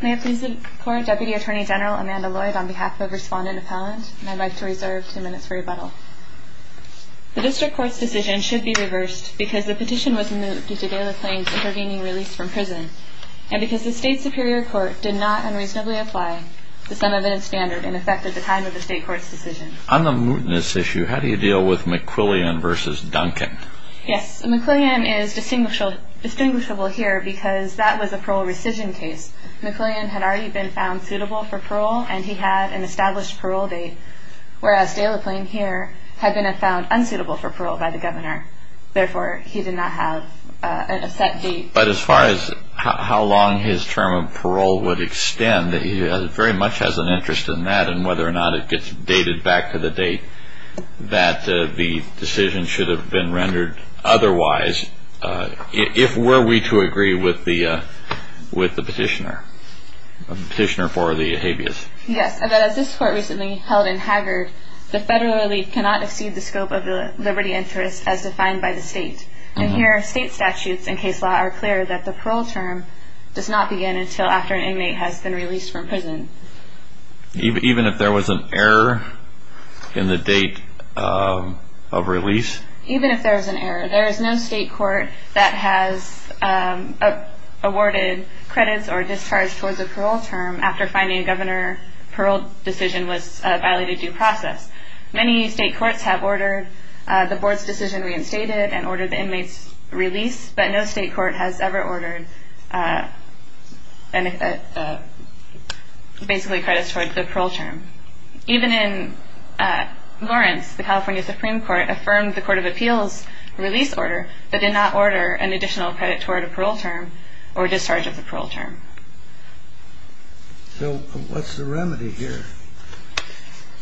May it please the court, Deputy Attorney General Amanda Lloyd on behalf of Respondent Appellant, and I'd like to reserve two minutes for rebuttal. The District Court's decision should be reversed because the petition was moot due to Delaplane's intervening release from prison, and because the State Superior Court did not unreasonably apply to some event standard and affected the time of the State Court's decision. On the mootness issue, how do you deal with McQuillian v. Duncan? Yes, McQuillian is distinguishable here because that was a parole rescission case. McQuillian had already been found suitable for parole, and he had an established parole date, whereas Delaplane here had been found unsuitable for parole by the Governor. Therefore, he did not have a set date. But as far as how long his term of parole would extend, he very much has an interest in that, and whether or not it gets dated back to the date that the decision should have been rendered otherwise, if were we to agree with the petitioner for the habeas. Yes, and as this Court recently held in Haggard, the Federal Relief cannot exceed the scope of the liberty interest as defined by the State. And here, State statutes and case law are clear that the parole term does not begin until after an inmate has been released from prison. Even if there was an error in the date of release? Even if there was an error. There is no State court that has awarded credits or discharged towards a parole term after finding a Governor parole decision was a violated due process. Many State courts have ordered the Board's decision reinstated and ordered the inmate's release, but no State court has ever ordered basically credits towards the parole term. Even in Lawrence, the California Supreme Court affirmed the Court of Appeals' release order but did not order an additional credit toward a parole term or discharge of the parole term. So what's the remedy here?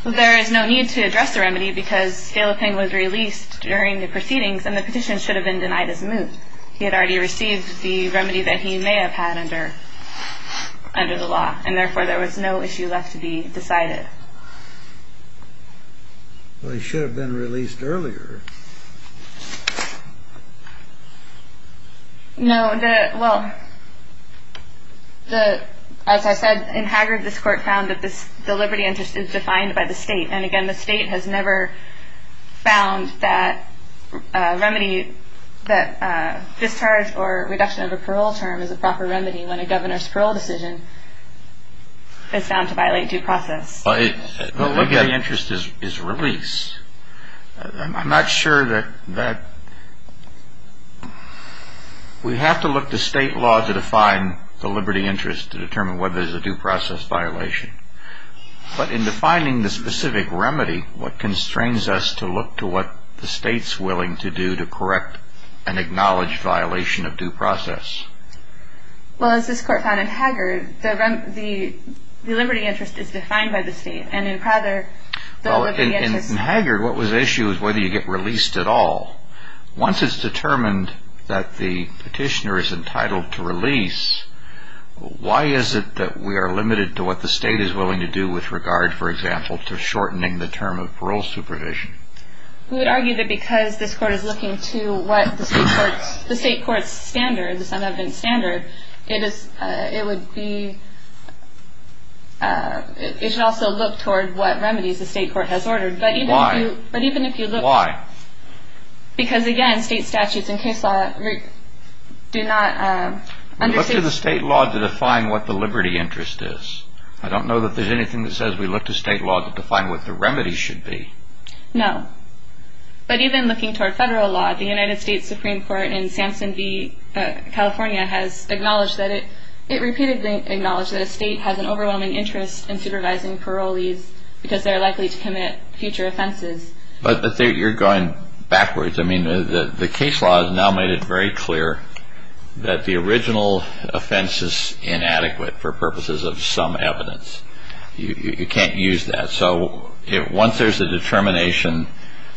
There is no need to address the remedy because Galloping was released during the proceedings and the petition should have been denied his moot. He had already received the remedy that he may have had under the law and therefore there was no issue left to be decided. Well, he should have been released earlier. As I said, in Haggard this Court found that the liberty interest is defined by the State and again the State has never found that discharge or reduction of a parole term is a proper remedy when a Governor's parole decision is found to violate due process. The liberty interest is released. I'm not sure that... We have to look to State law to define the liberty interest to determine whether it is a due process violation. But in defining the specific remedy, what constrains us to look to what the State is willing to do to correct an acknowledged violation of due process? Well, as this Court found in Haggard, the liberty interest is defined by the State and in Prather, the liberty interest... In Haggard, what was the issue was whether you get released at all. Once it's determined that the petitioner is entitled to release, why is it that we are limited to what the State is willing to do with regard, for example, to shortening the term of parole supervision? We would argue that because this Court is looking to what the State Court's standards, it should also look toward what remedies the State Court has ordered. Why? Because again, State statutes and case law do not... We look to the State law to define what the liberty interest is. I don't know that there's anything that says we look to State law to define what the remedy should be. No. But even looking toward Federal law, the United States Supreme Court in Samson v. California has acknowledged that it... It repeatedly acknowledged that a State has an overwhelming interest in supervising parolees because they are likely to commit future offenses. But you're going backwards. I mean, the case law has now made it very clear that the original offense is inadequate for purposes of some evidence. You can't use that. So once there's a determination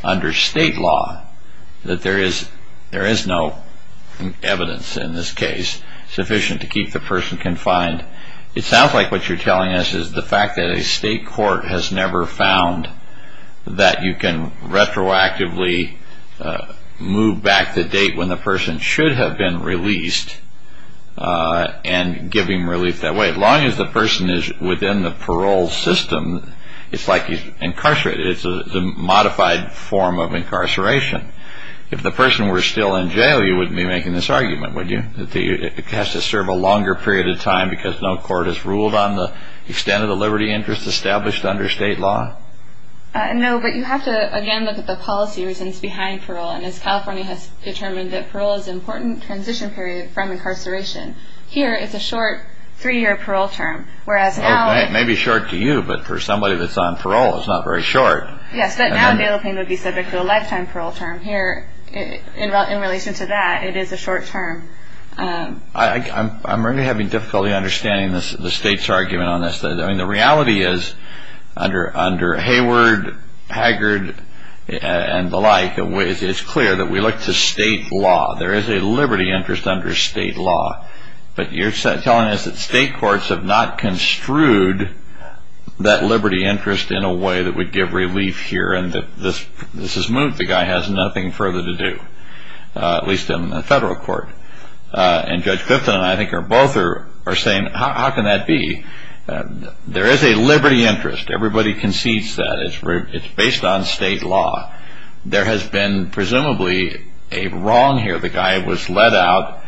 under State law that there is no evidence in this case sufficient to keep the person confined, it sounds like what you're telling us is the fact that a State court has never found that you can retroactively move back the date when the person should have been released and give him relief that way. As long as the person is within the parole system, it's like he's incarcerated. It's a modified form of incarceration. If the person were still in jail, you wouldn't be making this argument, would you? It has to serve a longer period of time because no court has ruled on the extent of the liberty interest established under State law? No, but you have to, again, look at the policy reasons behind parole. And as California has determined that parole is an important transition period from incarceration, here it's a short three-year parole term, whereas now... It may be short to you, but for somebody that's on parole, it's not very short. Yes, but now bail pain would be subject to a lifetime parole term. Here, in relation to that, it is a short term. I'm really having difficulty understanding the State's argument on this. I mean, the reality is under Hayward, Haggard, and the like, it's clear that we look to State law. There is a liberty interest under State law, but you're telling us that State courts have not construed that liberty interest in a way that would give relief here and that this has moved. The guy has nothing further to do, at least in the federal court. And Judge Clifton and I, I think, both are saying, how can that be? There is a liberty interest. Everybody concedes that. It's based on State law. There has been presumably a wrong here. The guy was let out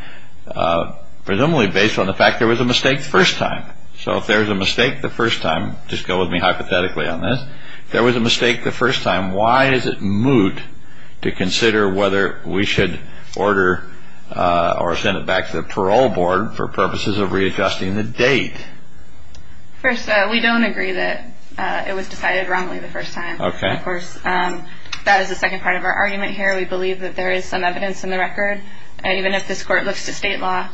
presumably based on the fact there was a mistake the first time. So if there was a mistake the first time, just go with me hypothetically on this, if there was a mistake the first time, why is it moot to consider whether we should order or send it back to the parole board for purposes of readjusting the date? First, we don't agree that it was decided wrongly the first time. Of course, that is the second part of our argument here. We believe that there is some evidence in the record, and even if this Court looks to State law,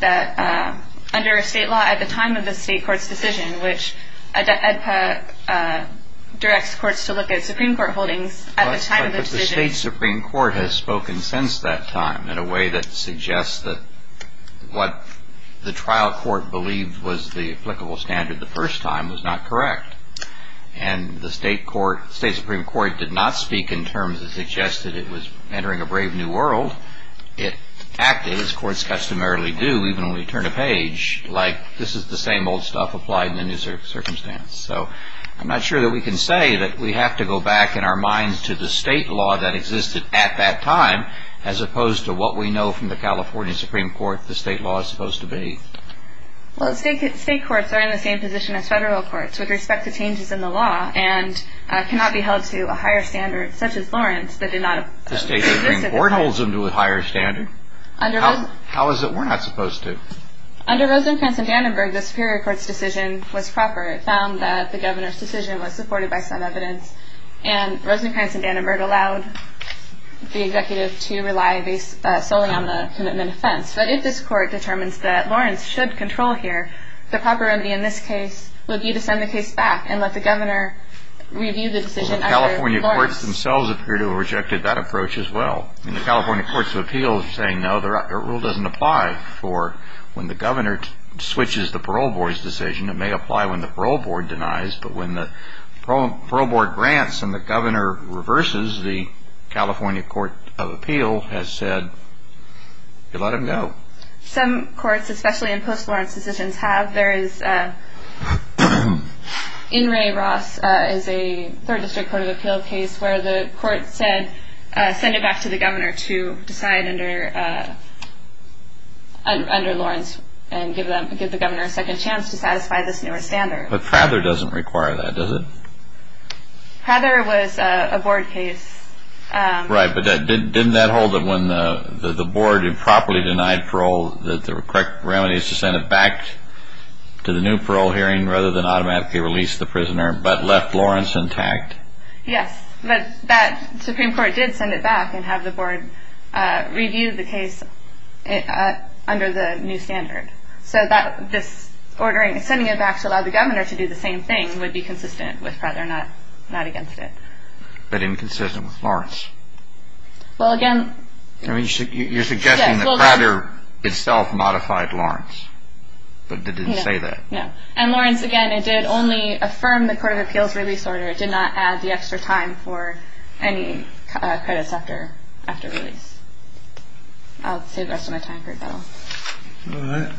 that under State law at the time of the State court's decision, which EDPA directs courts to look at Supreme Court holdings at the time of the decision. But the State Supreme Court has spoken since that time in a way that suggests that what the trial court believed was the applicable standard the first time was not correct. And the State Supreme Court did not speak in terms that suggested it was entering a brave new world. It acted as courts customarily do even when we turn a page, like this is the same old stuff applied in a new circumstance. So I'm not sure that we can say that we have to go back in our minds to the State law that existed at that time as opposed to what we know from the California Supreme Court the State law is supposed to be. Well, State courts are in the same position as Federal courts with respect to changes in the law and cannot be held to a higher standard such as Lawrence that did not... The State Supreme Court holds them to a higher standard? How is it we're not supposed to? Under Rosencrantz and Dannenberg, the Superior Court's decision was proper. It found that the Governor's decision was supported by some evidence, and Rosencrantz and Dannenberg allowed the Executive to rely solely on the commitment offense. But if this Court determines that Lawrence should control here, the proper remedy in this case would be to send the case back and let the Governor review the decision under Lawrence. Well, the California courts themselves appear to have rejected that approach as well. The California Courts of Appeals are saying no, the rule doesn't apply for when the Governor switches the Parole Board's decision. It may apply when the Parole Board denies, but when the Parole Board grants and the Governor reverses, the California Court of Appeals has said, you let him go. Some courts, especially in post-Lawrence decisions, have. There is In re Ross is a Third District Court of Appeals case where the court said send it back to the Governor to decide under Lawrence and give the Governor a second chance to satisfy this newer standard. But Frather doesn't require that, does it? Frather was a Board case. Right, but didn't that hold that when the Board improperly denied parole that the correct remedy is to send it back to the new parole hearing rather than automatically release the prisoner, but left Lawrence intact? Yes, but the Supreme Court did send it back and have the Board review the case under the new standard. So sending it back to allow the Governor to do the same thing would be consistent with Frather, not against it. But inconsistent with Lawrence? You're suggesting that Frather itself modified Lawrence, but didn't say that? No, and Lawrence, again, it did only affirm the Court of Appeals release order. It did not add the extra time for any credits after release. I'll save the rest of my time for Bill. All right.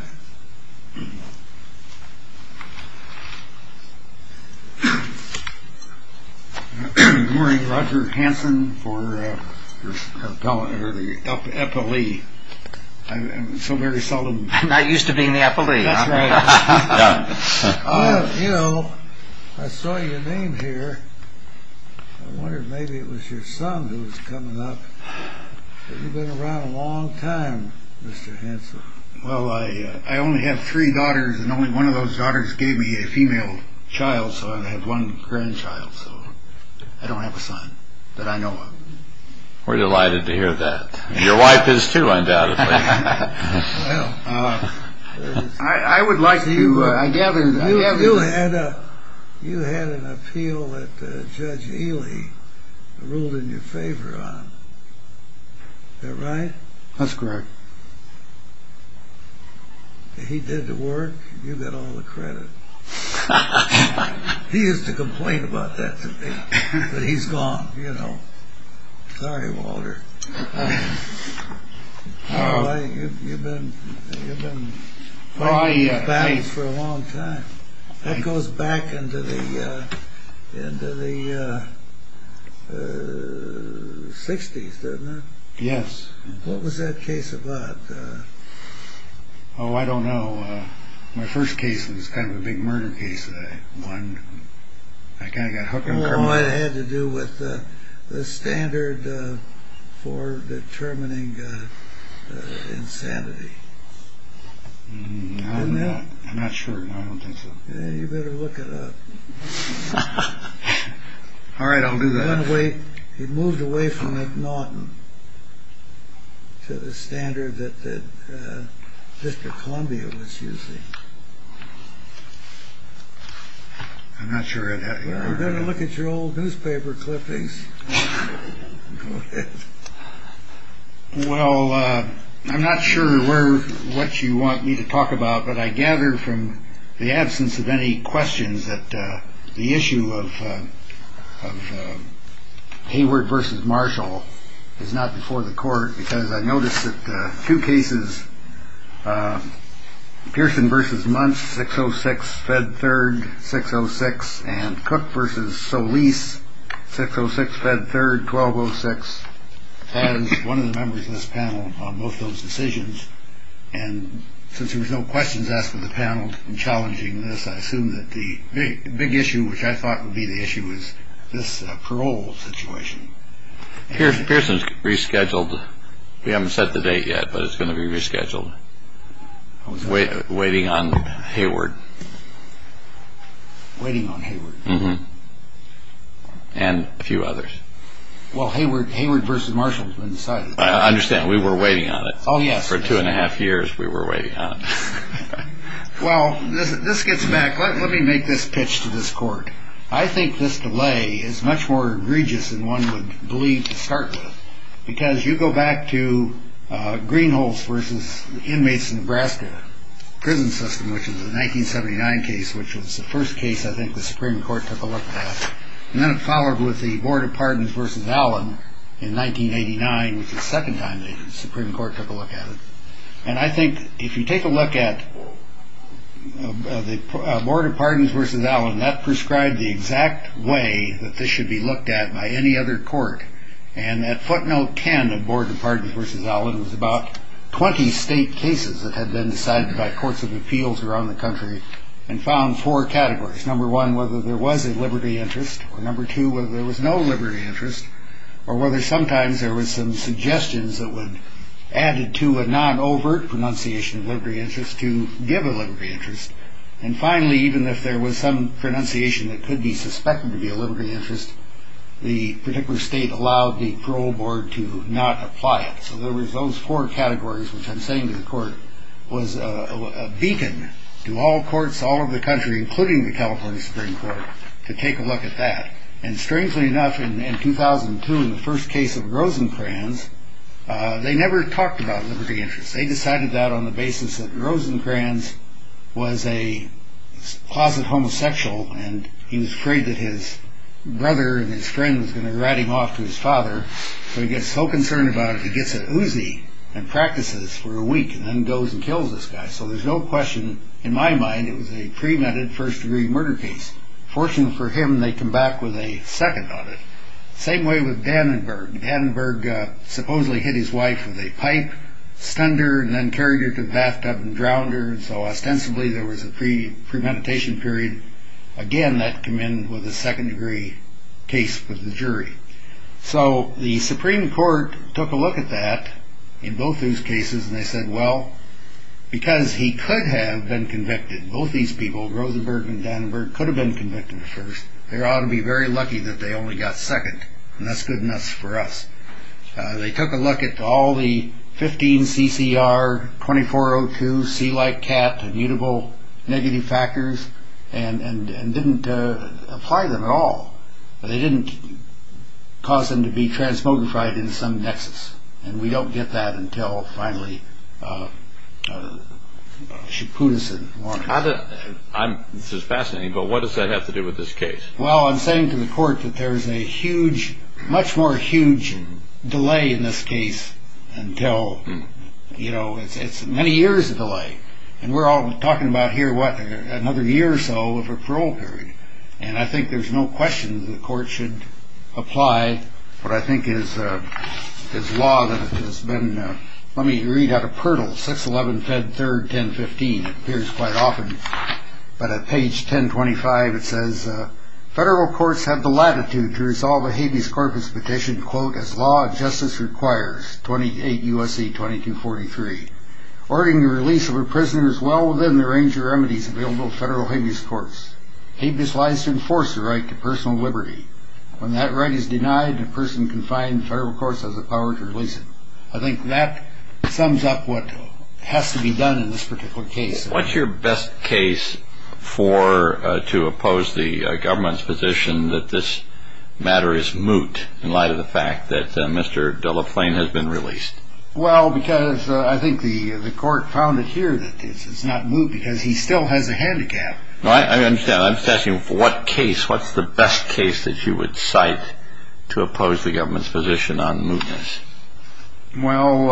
Good morning, Roger Hanson for the epilee. I'm so very seldom. I'm not used to being the epilee. That's right. You know, I saw your name here. I wondered maybe it was your son who was coming up. You've been around a long time, Mr. Hanson. Well, I only have three daughters, and only one of those daughters gave me a female child, so I have one grandchild, so I don't have a son that I know of. We're delighted to hear that. Your wife is, too, undoubtedly. Well, I would like to – You had an appeal that Judge Ely ruled in your favor on. Is that right? That's correct. He did the work. You got all the credit. He used to complain about that to me, but he's gone, you know. Sorry, Walter. You've been fighting these battles for a long time. That goes back into the 60s, doesn't it? Yes. What was that case about? Oh, I don't know. My first case was kind of a big murder case that I won. I kind of got hooked on crime. I don't know what it had to do with the standard for determining insanity. I'm not sure. I don't think so. You better look it up. All right, I'll do that. He moved away from McNaughton to the standard that District of Columbia was using. I'm not sure. You better look at your old newspaper clippings. Well, I'm not sure what you want me to talk about, but I gather from the absence of any questions that the issue of Hayward v. Marshall is not before the court, because I noticed that two cases, Pearson v. Muntz, 606, Fed Third, 606, and Cook v. Solis, 606, Fed Third, 1206, has one of the members of this panel on both those decisions. And since there was no questions asked of the panel in challenging this, I assume that the big issue, which I thought would be the issue, is this parole situation. Pearson's rescheduled. We haven't set the date yet, but it's going to be rescheduled. Waiting on Hayward. Waiting on Hayward. And a few others. Well, Hayward v. Marshall has been decided. I understand. We were waiting on it. Oh, yes. For two and a half years, we were waiting on it. Well, this gets back. Let me make this pitch to this court. I think this delay is much more egregious than one would believe to start with, because you go back to Greenholz v. Inmates of Nebraska Prison System, which is a 1979 case, which was the first case I think the Supreme Court took a look at, and then it followed with the Board of Pardons v. Allen in 1989, which is the second time the Supreme Court took a look at it. And I think if you take a look at the Board of Pardons v. Allen, that prescribed the exact way that this should be looked at by any other court. And at footnote 10 of Board of Pardons v. Allen was about 20 state cases that had been decided by courts of appeals around the country and found four categories. Number one, whether there was a liberty interest, or number two, whether there was no liberty interest, or whether sometimes there was some suggestions that were added to a non-overt pronunciation of liberty interest to give a liberty interest. And finally, even if there was some pronunciation that could be suspected to be a liberty interest, the particular state allowed the parole board to not apply it. So there was those four categories, which I'm saying to the court, was a beacon to all courts all over the country, including the California Supreme Court, to take a look at that. And strangely enough, in 2002, in the first case of Rosencrantz, they never talked about liberty interest. They decided that on the basis that Rosencrantz was a closet homosexual and he was afraid that his brother and his friend was going to rat him off to his father. So he gets so concerned about it, he gets an Uzi and practices for a week and then goes and kills this guy. So there's no question, in my mind, it was a premeditated first-degree murder case. Fortunately for him, they come back with a second on it. Same way with Dannenberg. Dannenberg supposedly hit his wife with a pipe, stunned her, and then carried her to the bathtub and drowned her. And so, ostensibly, there was a premeditation period. Again, that came in with a second-degree case with the jury. So the Supreme Court took a look at that in both those cases, and they said, well, because he could have been convicted. Both these people, Rosenberg and Dannenberg, could have been convicted first. They ought to be very lucky that they only got second, and that's good enough for us. They took a look at all the 15 CCR, 2402, C-like cat, immutable negative factors, and didn't apply them at all. They didn't cause them to be transmogrified in some nexus, and we don't get that until, finally, Shapoosin won. This is fascinating, but what does that have to do with this case? Well, I'm saying to the court that there is a huge, much more huge delay in this case until, you know, it's many years of delay. And we're all talking about here, what, another year or so of a parole period. And I think there's no question the court should apply what I think is law that has been, let me read out of Pirtle, 611 Fed 3rd, 1015. It appears quite often, but at page 1025, it says, Federal courts have the latitude to resolve a habeas corpus petition, quote, as law and justice requires, 28 U.S.C. 2243. Ordering the release of a prisoner is well within the range of remedies available to federal habeas courts. Habeas lies to enforce the right to personal liberty. When that right is denied, a person confined to federal courts has the power to release him. I think that sums up what has to be done in this particular case. What's your best case for, to oppose the government's position that this matter is moot in light of the fact that Mr. Delaplane has been released? Well, because I think the court found it here that it's not moot because he still has a handicap. I understand. I'm just asking what case, what's the best case that you would cite to oppose the government's position on mootness? Well,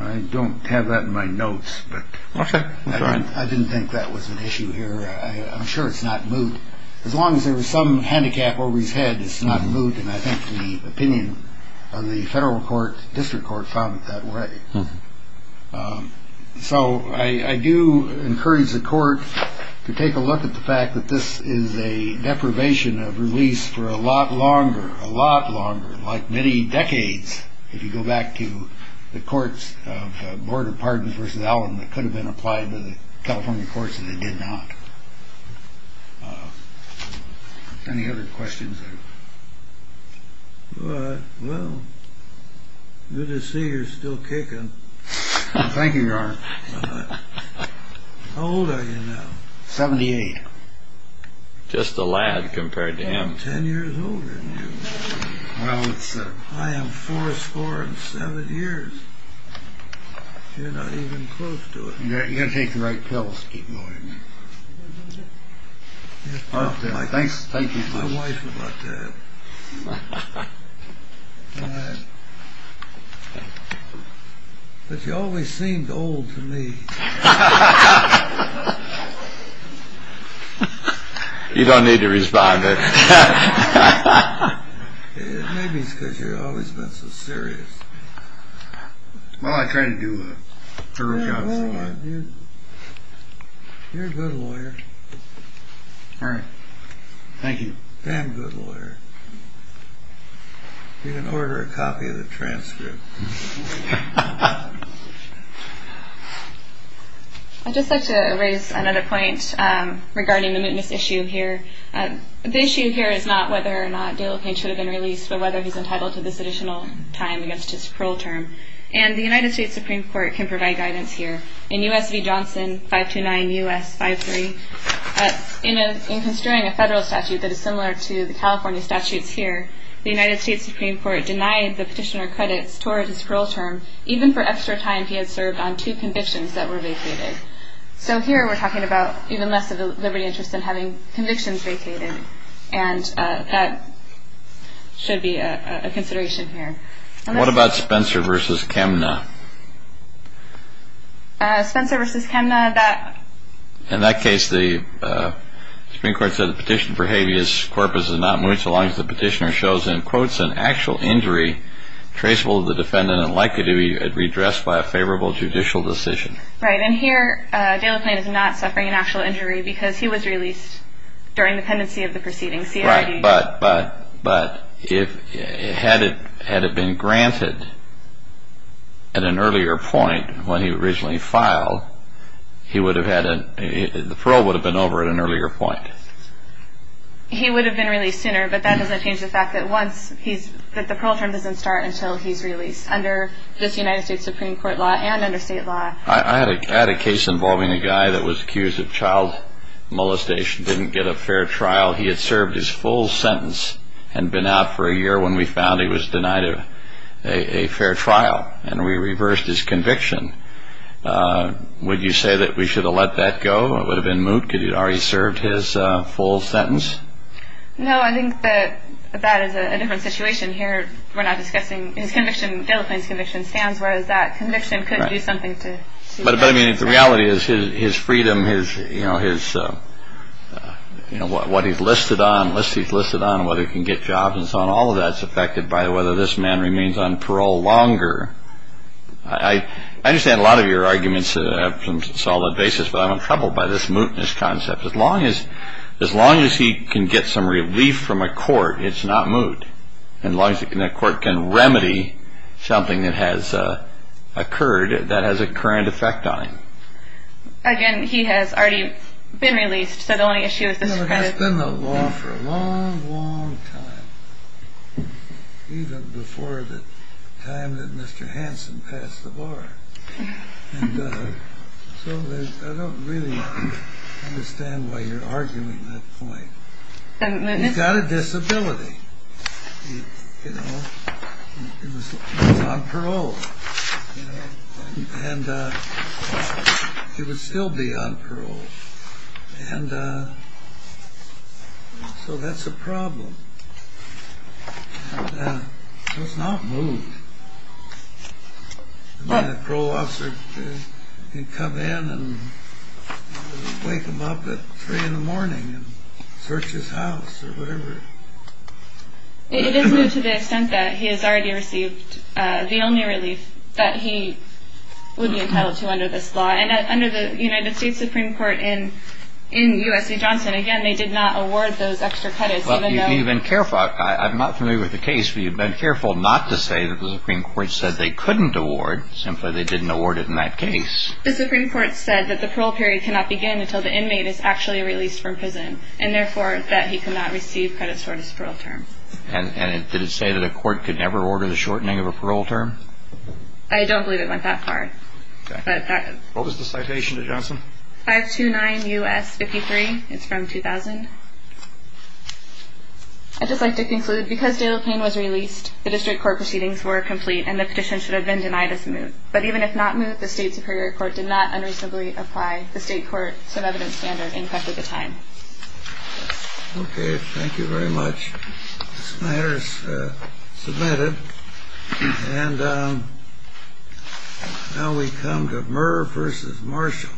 I don't have that in my notes, but I didn't think that was an issue here. I'm sure it's not moot. As long as there was some handicap over his head, it's not moot, and I think the opinion of the federal court, district court, found it that way. So I do encourage the court to take a look at the fact that this is a deprivation of release for a lot longer, a lot longer, like many decades, if you go back to the courts of Board of Pardons v. Allen that could have been applied to the California courts and they did not. Any other questions? Well, good to see you're still kicking. Thank you, Your Honor. How old are you now? 78. Just a lad compared to him. I'm 10 years older than you. I am four score and seven years. You're not even close to it. You've got to take the right pills to keep going. You have to talk to my wife about that. But you always seemed old to me. You don't need to respond to that. Maybe it's because you've always been so serious. Well, I try to do a thorough job sometimes. You're a good lawyer. Thank you. Damn good lawyer. You can order a copy of the transcript. I'd just like to raise another point regarding the mootness issue here. The issue here is not whether or not Dale O'Kane should have been released, but whether he's entitled to this additional time against his parole term. And the United States Supreme Court can provide guidance here. In U.S. v. Johnson, 529 U.S. 53, in construing a federal statute that is similar to the California statutes here, the United States Supreme Court denied the petitioner credits toward his parole term, even for extra time he had served on two convictions that were vacated. So here we're talking about even less of a liberty interest than having convictions vacated. And that should be a consideration here. What about Spencer v. Kemna? In that case, the Supreme Court said the petition for habeas corpus is not moot so long as the petitioner shows, in quotes, an actual injury traceable to the defendant and likely to be redressed by a favorable judicial decision. Right. And here Dale O'Kane is not suffering an actual injury because he was released during the pendency of the proceedings. Right. But had it been granted at an earlier point, when he originally filed, the parole would have been over at an earlier point. He would have been released sooner, but that doesn't change the fact that the parole term doesn't start until he's released under this United States Supreme Court law and under state law. I had a case involving a guy that was accused of child molestation, didn't get a fair trial. He had served his full sentence and been out for a year when we found he was denied a fair trial, and we reversed his conviction. Would you say that we should have let that go? It would have been moot. Could he have already served his full sentence? No, I think that that is a different situation here. We're not discussing his conviction. Dale O'Kane's conviction stands, whereas that conviction could do something to see that. But I mean, the reality is his freedom, his, you know, his, you know, what he's listed on, what he's listed on, whether he can get jobs and so on, all of that's affected by whether this man remains on parole longer. I understand a lot of your arguments have some solid basis, but I'm in trouble by this mootness concept. As long as he can get some relief from a court, it's not moot. And as long as a court can remedy something that has occurred, that has a current effect on him. Again, he has already been released, so the only issue is this credit. It's been the law for a long, long time, even before the time that Mr. Hansen passed the bar. And so I don't really understand why you're arguing that point. He's got a disability. You know, he's on parole. And he would still be on parole. And so that's a problem. So it's not moot. A parole officer can come in and wake him up at 3 in the morning and search his house or whatever. It is moot to the extent that he has already received the only relief that he would be entitled to under this law. And under the United States Supreme Court in U.S.C. Johnson, again, they did not award those extra credits. You've been careful. I'm not familiar with the case, but you've been careful not to say that the Supreme Court said they couldn't award, simply they didn't award it in that case. The Supreme Court said that the parole period cannot begin until the inmate is actually released from prison and, therefore, that he cannot receive credits for his parole term. And did it say that a court could never order the shortening of a parole term? I don't believe it went that far. What was the citation to Johnson? 529 U.S. 53. It's from 2000. I'd just like to conclude. Because Dale Payne was released, the district court proceedings were complete and the petition should have been denied as moot. But even if not moot, the state superior court did not unreasonably apply the state court some evidence standard in question at the time. Okay. Thank you very much. This matter is submitted. And now we come to Murr v. Marshall.